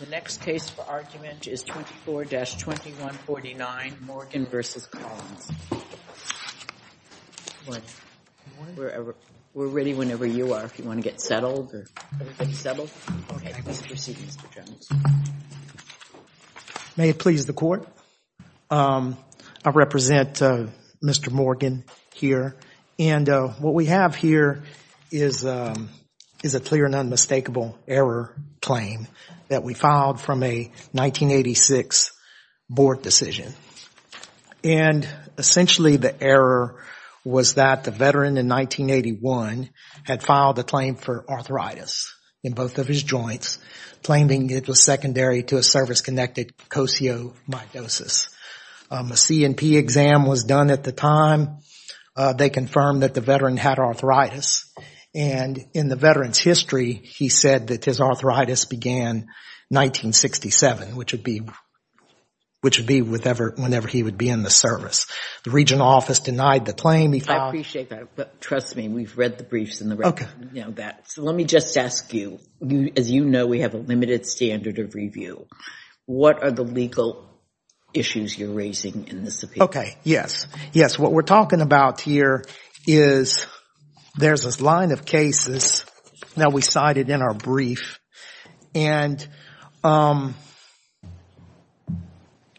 The next case for argument is 24-2149, Morgan v. Collins. We're ready whenever you are, if you want to get settled. May it please the court, I represent Mr. Morgan here and what we have here is a clear and unmistakable error claim that we filed from a 1986 board decision. And essentially the error was that the veteran in 1981 had filed a claim for arthritis in both of his joints, claiming it was secondary to a service-connected Kosio Mycosis. A C&P exam was done at the time. They confirmed that the veteran had arthritis, and in the veteran's history, he said that his arthritis began 1967, which would be whenever he would be in the service. The regional office denied the claim. He filed- I appreciate that, but trust me, we've read the briefs and the record, you know that. So let me just ask you, as you know, we have a limited standard of review. What are the legal issues you're raising in this appeal? Okay, yes. Yes, what we're talking about here is there's this line of cases that we cited in our brief and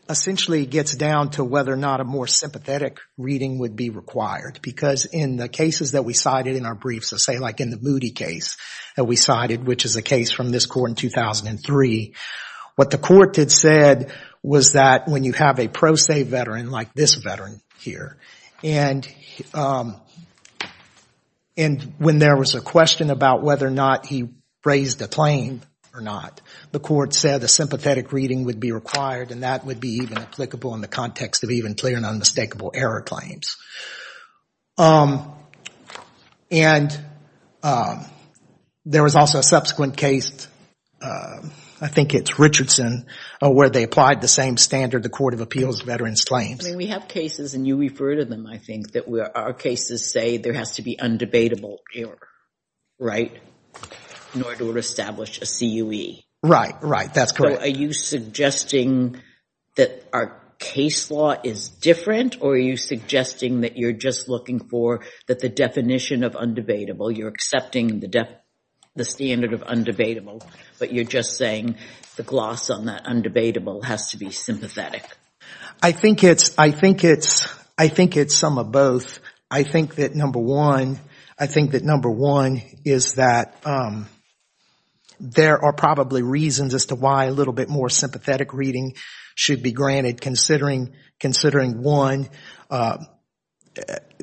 essentially it gets down to whether or not a more sympathetic reading would be required. Because in the cases that we cited in our brief, so say like in the Moody case that we cited, which is a case from this court in 2003, what the court had said was that when you have a pro se veteran like this veteran here and when there was a question about whether or not he raised a claim or not, the court said a sympathetic reading would be required and that would be even applicable in the context of even clear and unmistakable error claims. And there was also a subsequent case, I think it's Richardson, where they applied the same standard the Court of Appeals veterans claims. We have cases and you refer to them, I think, that our cases say there has to be undebatable error, right, in order to establish a CUE. Right, right. That's correct. So are you suggesting that our case law is different or are you suggesting that you're just looking for that the definition of undebatable, you're accepting the standard of undebatable, but you're just saying the gloss on that undebatable has to be sympathetic? I think it's, I think it's, I think it's some of both. I think that number one, I think that number one is that there are probably reasons as to why a little bit more sympathetic reading should be granted considering, considering one,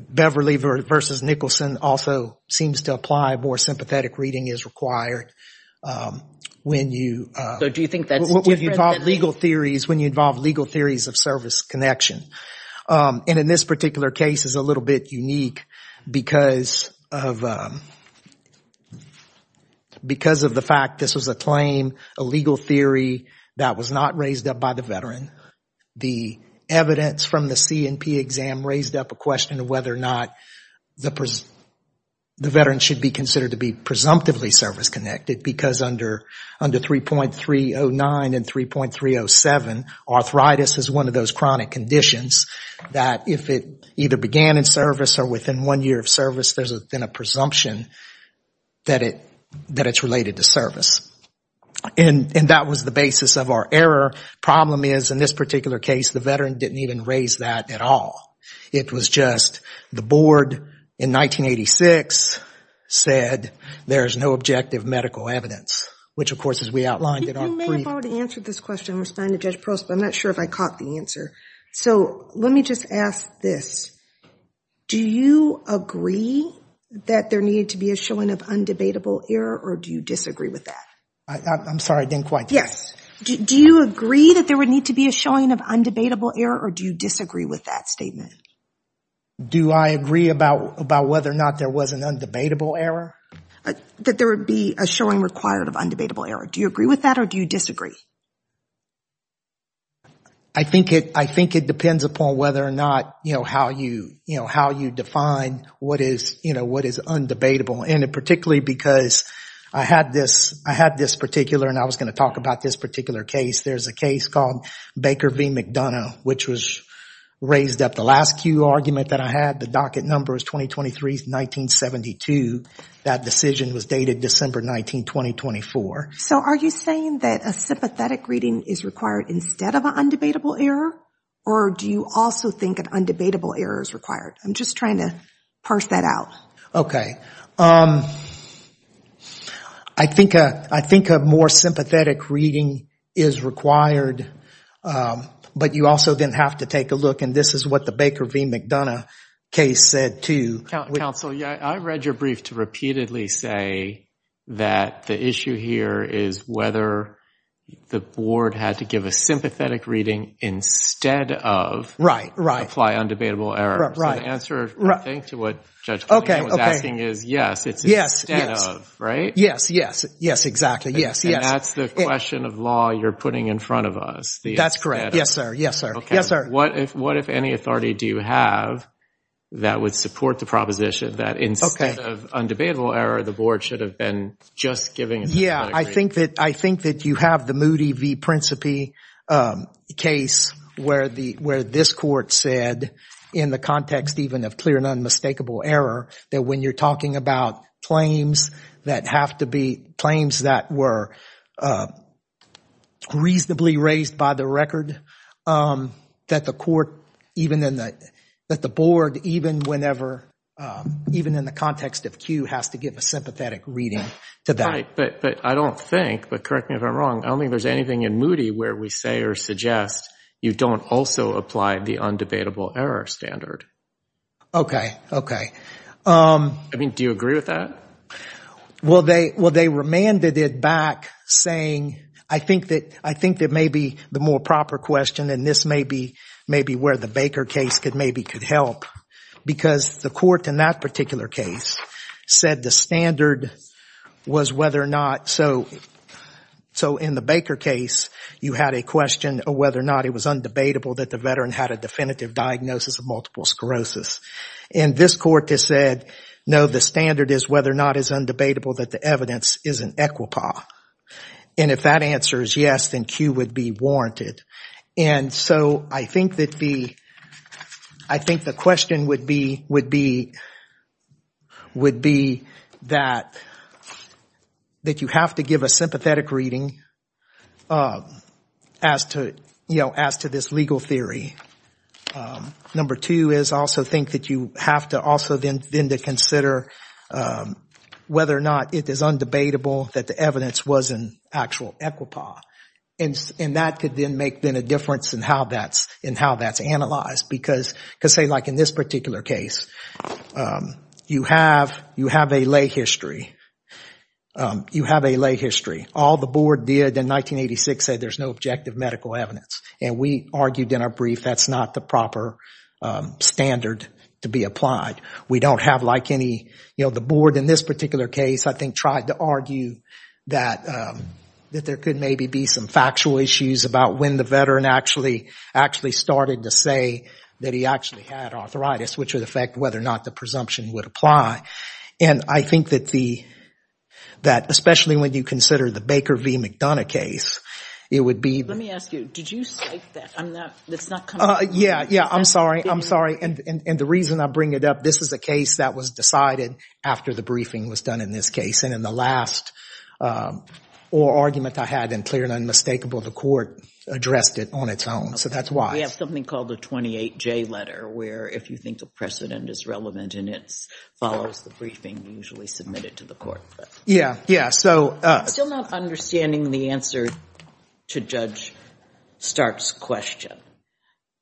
Beverly versus Nicholson also seems to apply more sympathetic reading is required. When you, when you involve legal theories, when you involve legal theories of service connection and in this particular case is a little bit unique because of, because of the fact this was a claim, a legal theory that was not raised up by the veteran. The evidence from the C&P exam raised up a question of whether or not the, the veteran should be considered to be presumptively service connected because under, under 3.309 and 3.307, arthritis is one of those chronic conditions that if it either began in service or within one year of service, there's a presumption that it, that it's related to service. And that was the basis of our error. Problem is in this particular case, the veteran didn't even raise that at all. It was just the board in 1986 said, there's no objective medical evidence, which of course as we outlined in our brief. You may have already answered this question and responded to Judge Pearls, but I'm not sure if I caught the answer. So let me just ask this. Do you agree that there needed to be a showing of undebatable error or do you disagree with that? I, I'm sorry, I didn't quite catch that. Yes. Do you agree that there would need to be a showing of undebatable error or do you disagree with that statement? Do I agree about, about whether or not there was an undebatable error? That there would be a showing required of undebatable error. Do you agree with that or do you disagree? I think it, I think it depends upon whether or not, you know, how you, you know, how you define what is, you know, what is undebatable and particularly because I had this, I had this particular and I was going to talk about this particular case. There's a case called Baker v. McDonough, which was raised up the last Q argument that I had. The docket number is 2023, 1972. That decision was dated December 19, 2024. So are you saying that a sympathetic reading is required instead of an undebatable error or do you also think an undebatable error is required? I'm just trying to parse that out. Okay. Okay. All right. Um, I think, uh, I think a more sympathetic reading is required, um, but you also then have to take a look and this is what the Baker v. McDonough case said too. Counsel, yeah, I read your brief to repeatedly say that the issue here is whether the board had to give a sympathetic reading instead of apply undebatable error. Right, right. My answer, I think, to what Judge Cunningham was asking is yes, it's instead of, right? Yes, yes. Yes, exactly. Yes. Yes. And that's the question of law you're putting in front of us. That's correct. Yes, sir. Yes, sir. Yes, sir. What if, what if any authority do you have that would support the proposition that instead of undebatable error, the board should have been just giving a sympathetic reading? Yeah. I think that, I think that you have the Moody v. Principi, um, case where the, where this court said in the context even of clear and unmistakable error that when you're talking about claims that have to be, claims that were, uh, reasonably raised by the record, um, that the court, even in the, that the board, even whenever, um, even in the context of Q has to give a sympathetic reading to that. Right. But, but I don't think, but correct me if I'm wrong, I don't think there's anything in Moody where we say or suggest you don't also apply the undebatable error standard. Um. I mean, do you agree with that? Well they, well they remanded it back saying, I think that, I think that maybe the more proper question, and this may be, may be where the Baker case could maybe could help because the court in that particular case said the standard was whether or not, so, so in the Baker case, you had a question of whether or not it was undebatable that the veteran had a definitive diagnosis of multiple sclerosis. And this court has said, no, the standard is whether or not it's undebatable that the evidence is an equipa. And if that answer is yes, then Q would be warranted. And so I think that the, I think the question would be, would be, would be that, that you have to give a sympathetic reading as to, you know, as to this legal theory. Number two is also think that you have to also then, then to consider whether or not it is undebatable that the evidence was an actual equipa. And that could then make then a difference in how that's, in how that's analyzed. Because say like in this particular case, you have, you have a lay history. You have a lay history. All the board did in 1986 said there's no objective medical evidence. And we argued in our brief that's not the proper standard to be applied. We don't have like any, you know, the board in this particular case, I think, tried to argue that, that there could maybe be some factual issues about when the veteran actually, actually started to say that he actually had arthritis, which would affect whether or not the presumption would apply. And I think that the, that especially when you consider the Baker v. McDonough case, it would be. Let me ask you, did you cite that? I'm not, it's not coming up. Yeah, yeah. I'm sorry. I'm sorry. And the reason I bring it up, this is a case that was decided after the briefing was done in this case. And in the last oral argument I had in clear and unmistakable, the court addressed it on its own. So that's why. We have something called the 28J letter where if you think the precedent is relevant and it follows the briefing, you usually submit it to the court. Yeah, yeah. So. I'm still not understanding the answer to Judge Stark's question.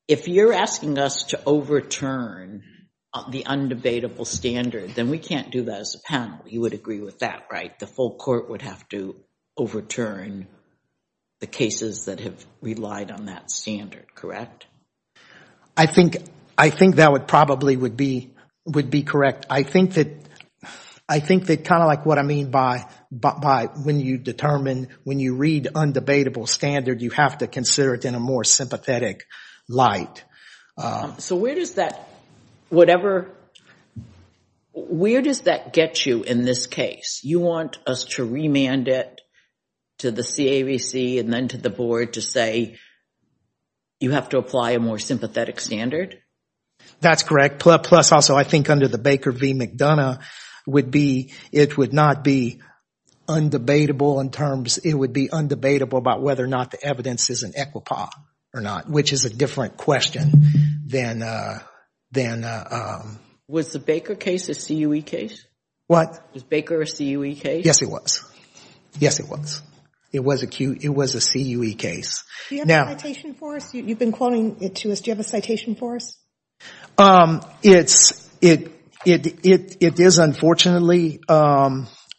If you're asking us to overturn the undebatable standard, then we can't do that as a panel. You would agree with that, right? The full court would have to overturn the cases that have relied on that standard, correct? I think, I think that would probably would be, would be correct. I think that, I think that kind of like what I mean by, by when you determine, when you read undebatable standard, you have to consider it in a more sympathetic light. So where does that, whatever, where does that get you in this case? You want us to remand it to the CAVC and then to the board to say, you have to apply a more sympathetic standard? That's correct. Plus, also I think under the Baker v. McDonough would be, it would not be undebatable in terms, it would be undebatable about whether or not the evidence is in EQUIPA or not, which is a different question than, than. Was the Baker case a CUE case? What? Was Baker a CUE case? Yes, it was. Yes, it was. It was a CUE case. Do you have a citation for us? You've been quoting it to us. Do you have a citation for us? It's, it, it, it, it is unfortunately,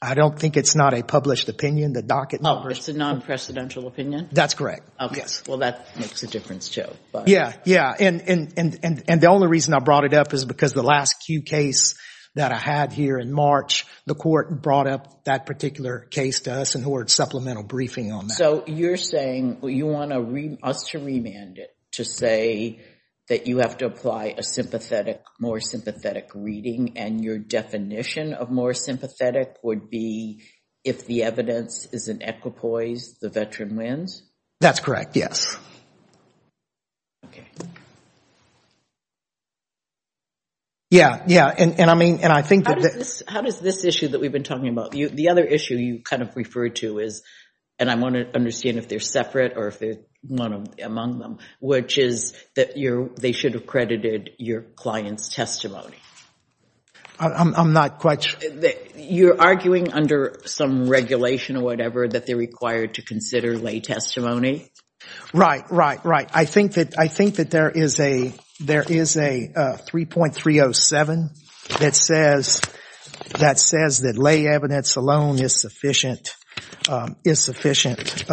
I don't think it's not a published opinion, the docket numbers. Oh, it's a non-precedential opinion? That's correct. Okay. Well, that makes a difference too. Yeah. Yeah. And, and, and, and, and the only reason I brought it up is because the last CUE case that I had here in March, the court brought up that particular case to us and ordered supplemental briefing on that. So you're saying you want us to remand it to say that you have to apply a sympathetic, more sympathetic reading and your definition of more sympathetic would be if the evidence is in EQUIPOIS, the veteran wins? That's correct. Yes. Okay. Yeah. And, and I mean, and I think that How does this, how does this issue that we've been talking about, you, the other issue you kind of referred to is, and I want to understand if they're separate or if they're not among them, which is that you're, they should have credited your client's testimony. I'm not quite sure. You're arguing under some regulation or whatever that they're required to consider lay testimony? Right, right, right. I think that, I think that there is a, there is a 3.307 that says, that says that lay evidence alone is sufficient, is sufficient,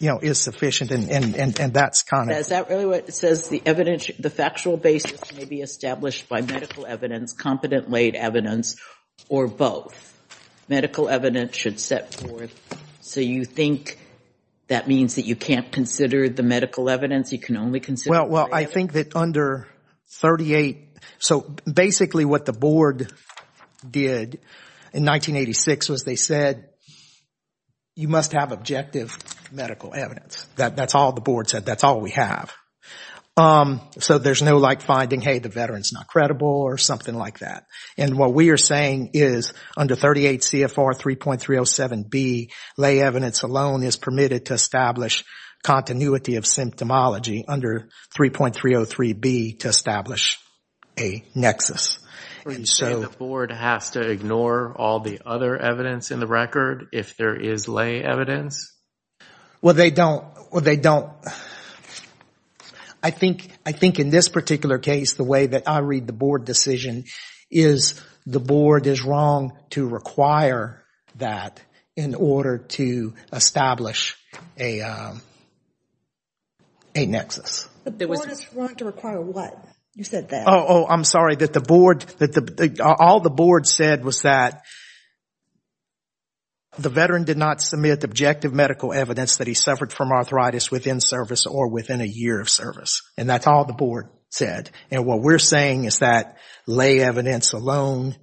you know, is sufficient and, and, and, and that's kind Is that really what it says? The evidence, the factual basis may be established by medical evidence, competent laid evidence or both. Medical evidence should set forth. So you think that means that you can't consider the medical evidence? You can only consider Well, well, I think that under 38, so basically what the board did in 1986 was they said, you must have objective medical evidence. That's all the board said. That's all we have. So there's no like finding, hey, the veteran's not credible or something like that. And what we are saying is under 38 CFR 3.307B, lay evidence alone is permitted to establish continuity of symptomology under 3.303B to establish a nexus. So the board has to ignore all the other evidence in the record if there is lay evidence? Well they don't, well they don't, I think, I think in this particular case, the way that I read the board decision is the board is wrong to require that in order to establish a nexus. The board is wrong to require what? You said that. Oh, I'm sorry, that the board, all the board said was that the veteran did not submit objective medical evidence that he suffered from arthritis within service or within a year of service. And that's all the board said. And what we're saying is that lay evidence alone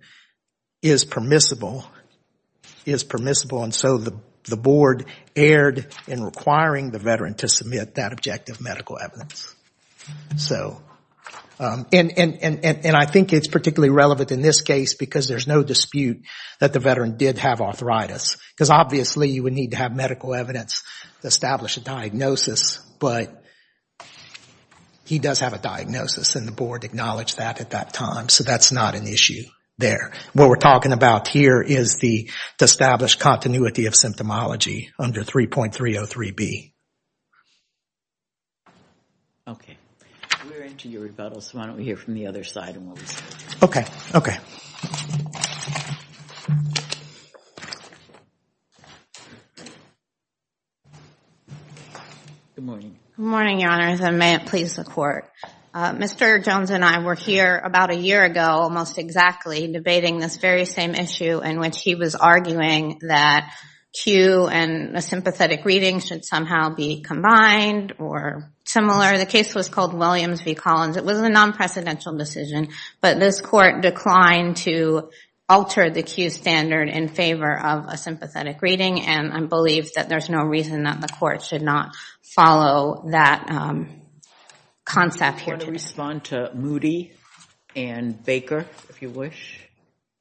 is permissible, is permissible, and so the board erred in requiring the veteran to submit that objective medical evidence. So and I think it's particularly relevant in this case because there's no dispute that the veteran did have arthritis. Because obviously you would need to have medical evidence to establish a diagnosis, but he does have a diagnosis and the board acknowledged that at that time, so that's not an issue there. What we're talking about here is the established continuity of symptomology under 3.303B. Okay. We're into your rebuttal, so why don't we hear from the other side and what we say. Okay. Good morning. Good morning, Your Honors, and may it please the court. Mr. Jones and I were here about a year ago, almost exactly, debating this very same issue in which he was arguing that Q and a sympathetic reading should somehow be combined or similar. The case was called Williams v. Collins. It was a non-precedential decision, but this court declined to alter the Q standard in favor of a sympathetic reading, and I believe that there's no reason that the court should not follow that concept here today. Do you want to respond to Moody and Baker, if you wish?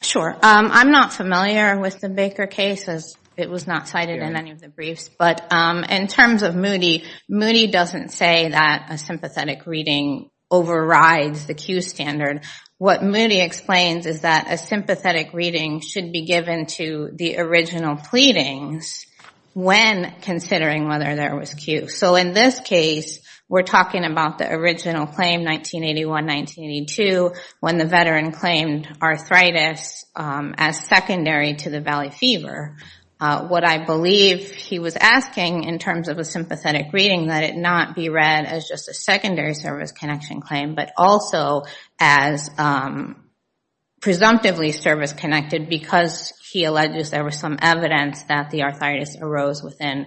Sure. I'm not familiar with the Baker case, as it was not cited in any of the briefs, but in terms of Moody, Moody doesn't say that a sympathetic reading overrides the Q standard. What Moody explains is that a sympathetic reading should be given to the original pleadings when considering whether there was Q. So in this case, we're talking about the original claim, 1981-1982, when the veteran claimed arthritis as secondary to the valley fever. What I believe he was asking in terms of a sympathetic reading, that it not be read as just a secondary service connection claim, but also as presumptively service-connected because he alleges there was some evidence that the arthritis arose within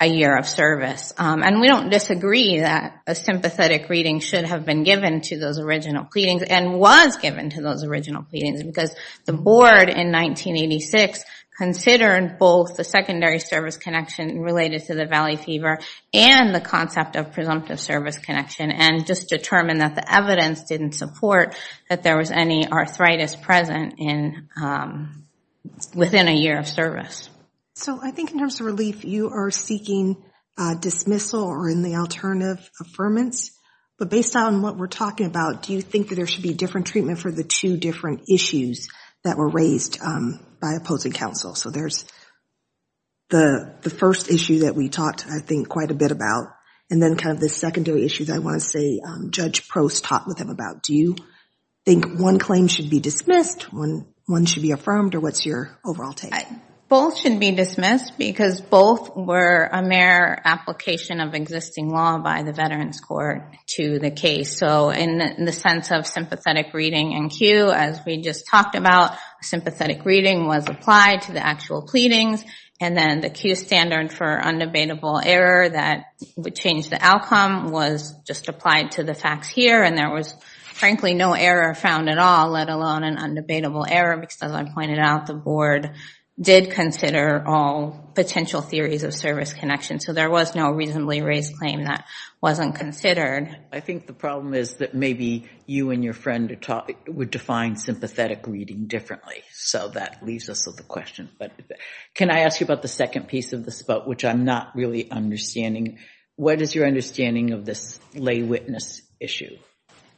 a year of service. And we don't disagree that a sympathetic reading should have been given to those original pleadings and was given to those original pleadings, because the board in 1986 considered both the secondary service connection related to the valley fever and the concept of presumptive service connection, and just determined that the evidence didn't support that there was any arthritis present within a year of service. So I think in terms of relief, you are seeking dismissal or any alternative affirmance. But based on what we're talking about, do you think that there should be different treatment for the two different issues that were raised by opposing counsel? So there's the first issue that we talked, I think, quite a bit about, and then kind of the secondary issues I want to say Judge Prost talked with him about. Do you think one claim should be dismissed, one should be affirmed, or what's your overall take? Both should be dismissed, because both were a mere application of existing law by the Veterans Court to the case. So in the sense of sympathetic reading and cue, as we just talked about, sympathetic reading was applied to the actual pleadings, and then the cue standard for unabatable error that would change the outcome was just applied to the facts here, and there was frankly no error found at all, let alone an unabatable error, because as I pointed out, the board did consider all potential theories of service connection. So there was no reasonably raised claim that wasn't considered. I think the problem is that maybe you and your friend would define sympathetic reading differently. So that leaves us with a question. Can I ask you about the second piece of the spout, which I'm not really understanding? What is your understanding of this lay witness issue?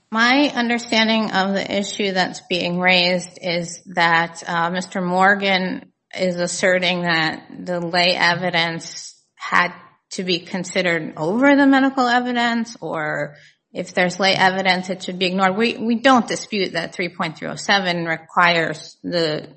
My understanding of the issue that's being raised is that Mr. Morgan is asserting that the lay evidence had to be considered over the medical evidence, or if there's lay evidence it should be ignored. We don't dispute that 3.307 requires the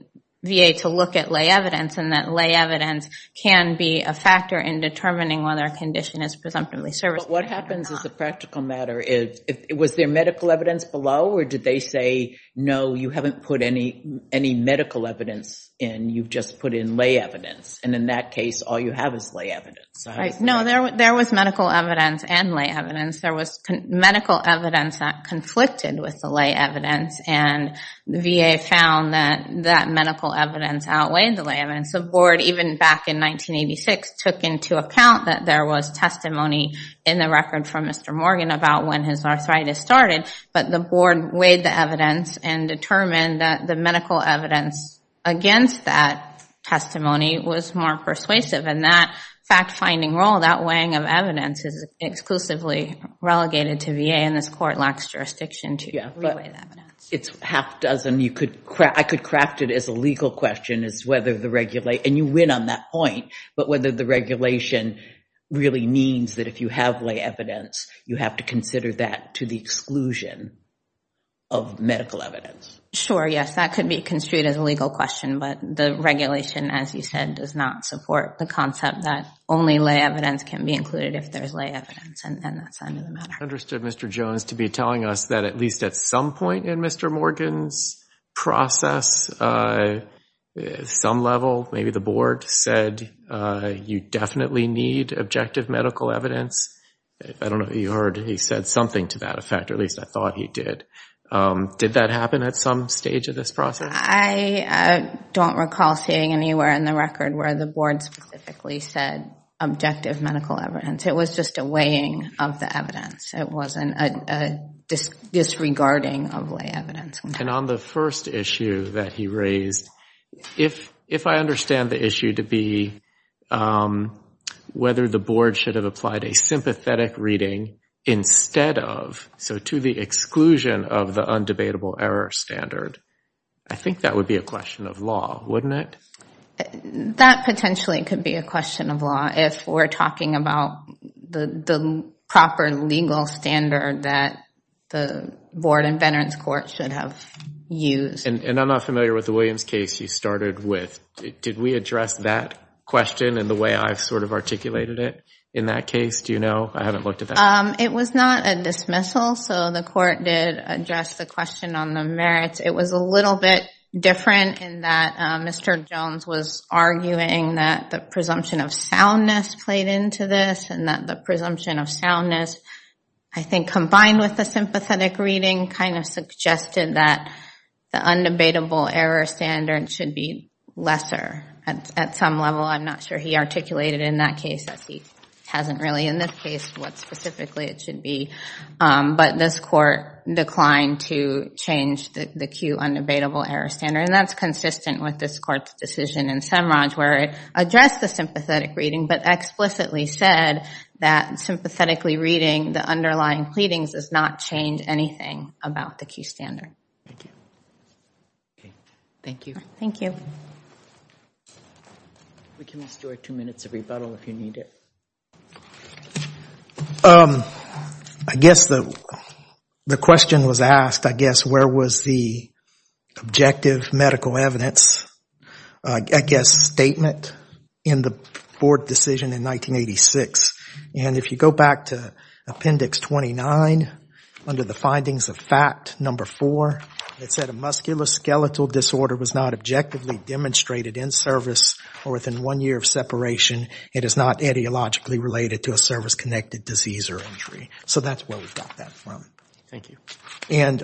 VA to look at lay evidence, and that lay evidence can be a factor in determining whether a condition is presumptively serviceable or not. But what happens is the practical matter is, was there medical evidence below, or did they say no, you haven't put any medical evidence in, you've just put in lay evidence, and in that case all you have is lay evidence. Right. No, there was medical evidence and lay evidence. There was medical evidence that conflicted with the lay evidence, and the VA found that medical evidence outweighed the lay evidence. The board, even back in 1986, took into account that there was testimony in the record from Mr. Morgan about when his arthritis started, but the board weighed the evidence and determined that the medical evidence against that testimony was more persuasive, and that fact-finding role, that weighing of evidence, is exclusively relegated to VA, and this court lacks jurisdiction to weigh the evidence. It's half-dozen. I could craft it as a legal question, and you win on that point, but whether the regulation really means that if you have lay evidence, you have to consider that to the exclusion of medical evidence. Sure, yes, that could be construed as a legal question, but the regulation, as you said, does not support the concept that only lay evidence can be included if there's lay evidence, and that's not even a matter. I understood Mr. Jones to be telling us that at least at some point in Mr. Morgan's process, some level, maybe the board, said you definitely need objective medical evidence. I don't know if you heard he said something to that effect, or at least I thought he did. Did that happen at some stage of this process? I don't recall seeing anywhere in the record where the board specifically said objective medical evidence. It was just a weighing of the evidence. It wasn't a disregarding of lay evidence. And on the first issue that he raised, if I understand the issue to be whether the board should have applied a sympathetic reading instead of, so to the exclusion of the undebatable error standard, I think that would be a question of law, wouldn't it? That potentially could be a question of law if we're talking about the proper legal standard that the board and veterans court should have used. And I'm not familiar with the Williams case you started with. Did we address that question in the way I've sort of articulated it in that case? Do you know? I haven't looked at that. It was not a dismissal, so the court did address the question on the merits. It was a little bit different in that Mr. Jones was arguing that the presumption of soundness played into this, and that the presumption of soundness, I think combined with the sympathetic reading, kind of suggested that the undebatable error standard should be lesser at some level. I'm not sure he articulated in that case, as he hasn't really in this case, what specifically it should be. But this court declined to change the Q undebatable error standard, and that's consistent with this court's decision in SEMRAJ, where it addressed the sympathetic reading, but explicitly said that sympathetically reading the underlying pleadings does not change anything about the Q standard. Thank you. Thank you. We can restore two minutes of rebuttal if you need it. I guess the question was asked, I guess, where was the objective medical evidence, I guess, statement in the board decision in 1986? And if you go back to appendix 29, under the findings of fact number four, it said a musculoskeletal disorder was not objectively demonstrated in service or within one year of separation. It is not etiologically related to a service-connected disease or injury. So that's where we got that from. Thank you. And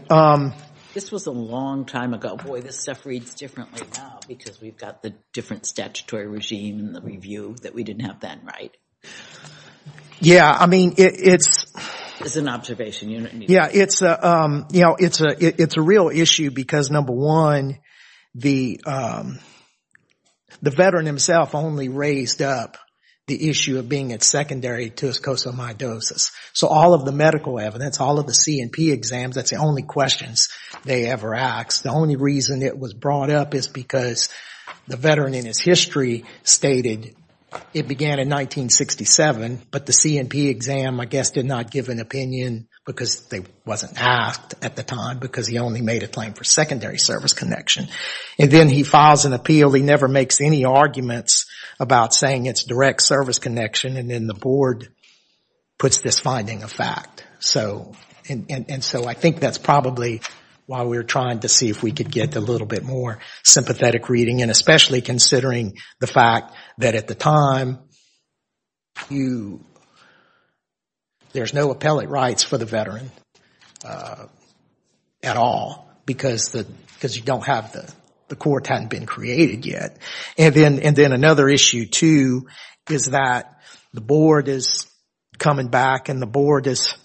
This was a long time ago. Boy, this stuff reads differently now, because we've got the different statutory regime and the review that we didn't have then, right? Yeah. I mean, it's It's an observation, you don't need to It's a real issue because, number one, the veteran himself only raised up the issue of being secondary to his cosomidosis. So all of the medical evidence, all of the C&P exams, that's the only questions they ever asked. The only reason it was brought up is because the veteran in his history stated it began in 1967, but the C&P exam, I guess, did not give an opinion because it wasn't asked at the time, because he only made a claim for secondary service connection. And then he files an appeal, he never makes any arguments about saying it's direct service connection, and then the board puts this finding of fact. And so I think that's probably why we're trying to see if we could get a little bit more sympathetic reading, and especially considering the fact that at the time, there's no appellate rights for the veteran at all, because you don't have the, the court hadn't been created yet. And then another issue, too, is that the board is coming back and the board is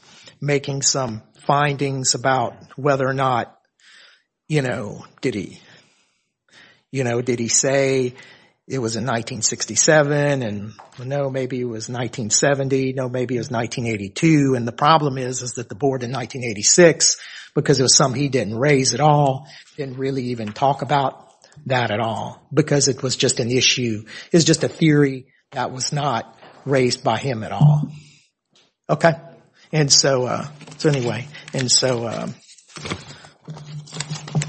making some findings about whether or not, you know, did he, you know, did he say it was in 1967, and no, maybe it was 1970, no, maybe it was 1982, and the problem is, is that the board in 1986, because it was something he didn't raise at all, didn't really even talk about that at all, because it was just an issue, it was just a theory that was not raised by him at all. Okay? And so, so anyway, and so,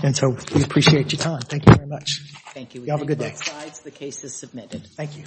and so we appreciate your time. Thank you very much. Thank you. Y'all have a good day. The case is submitted. Thank you.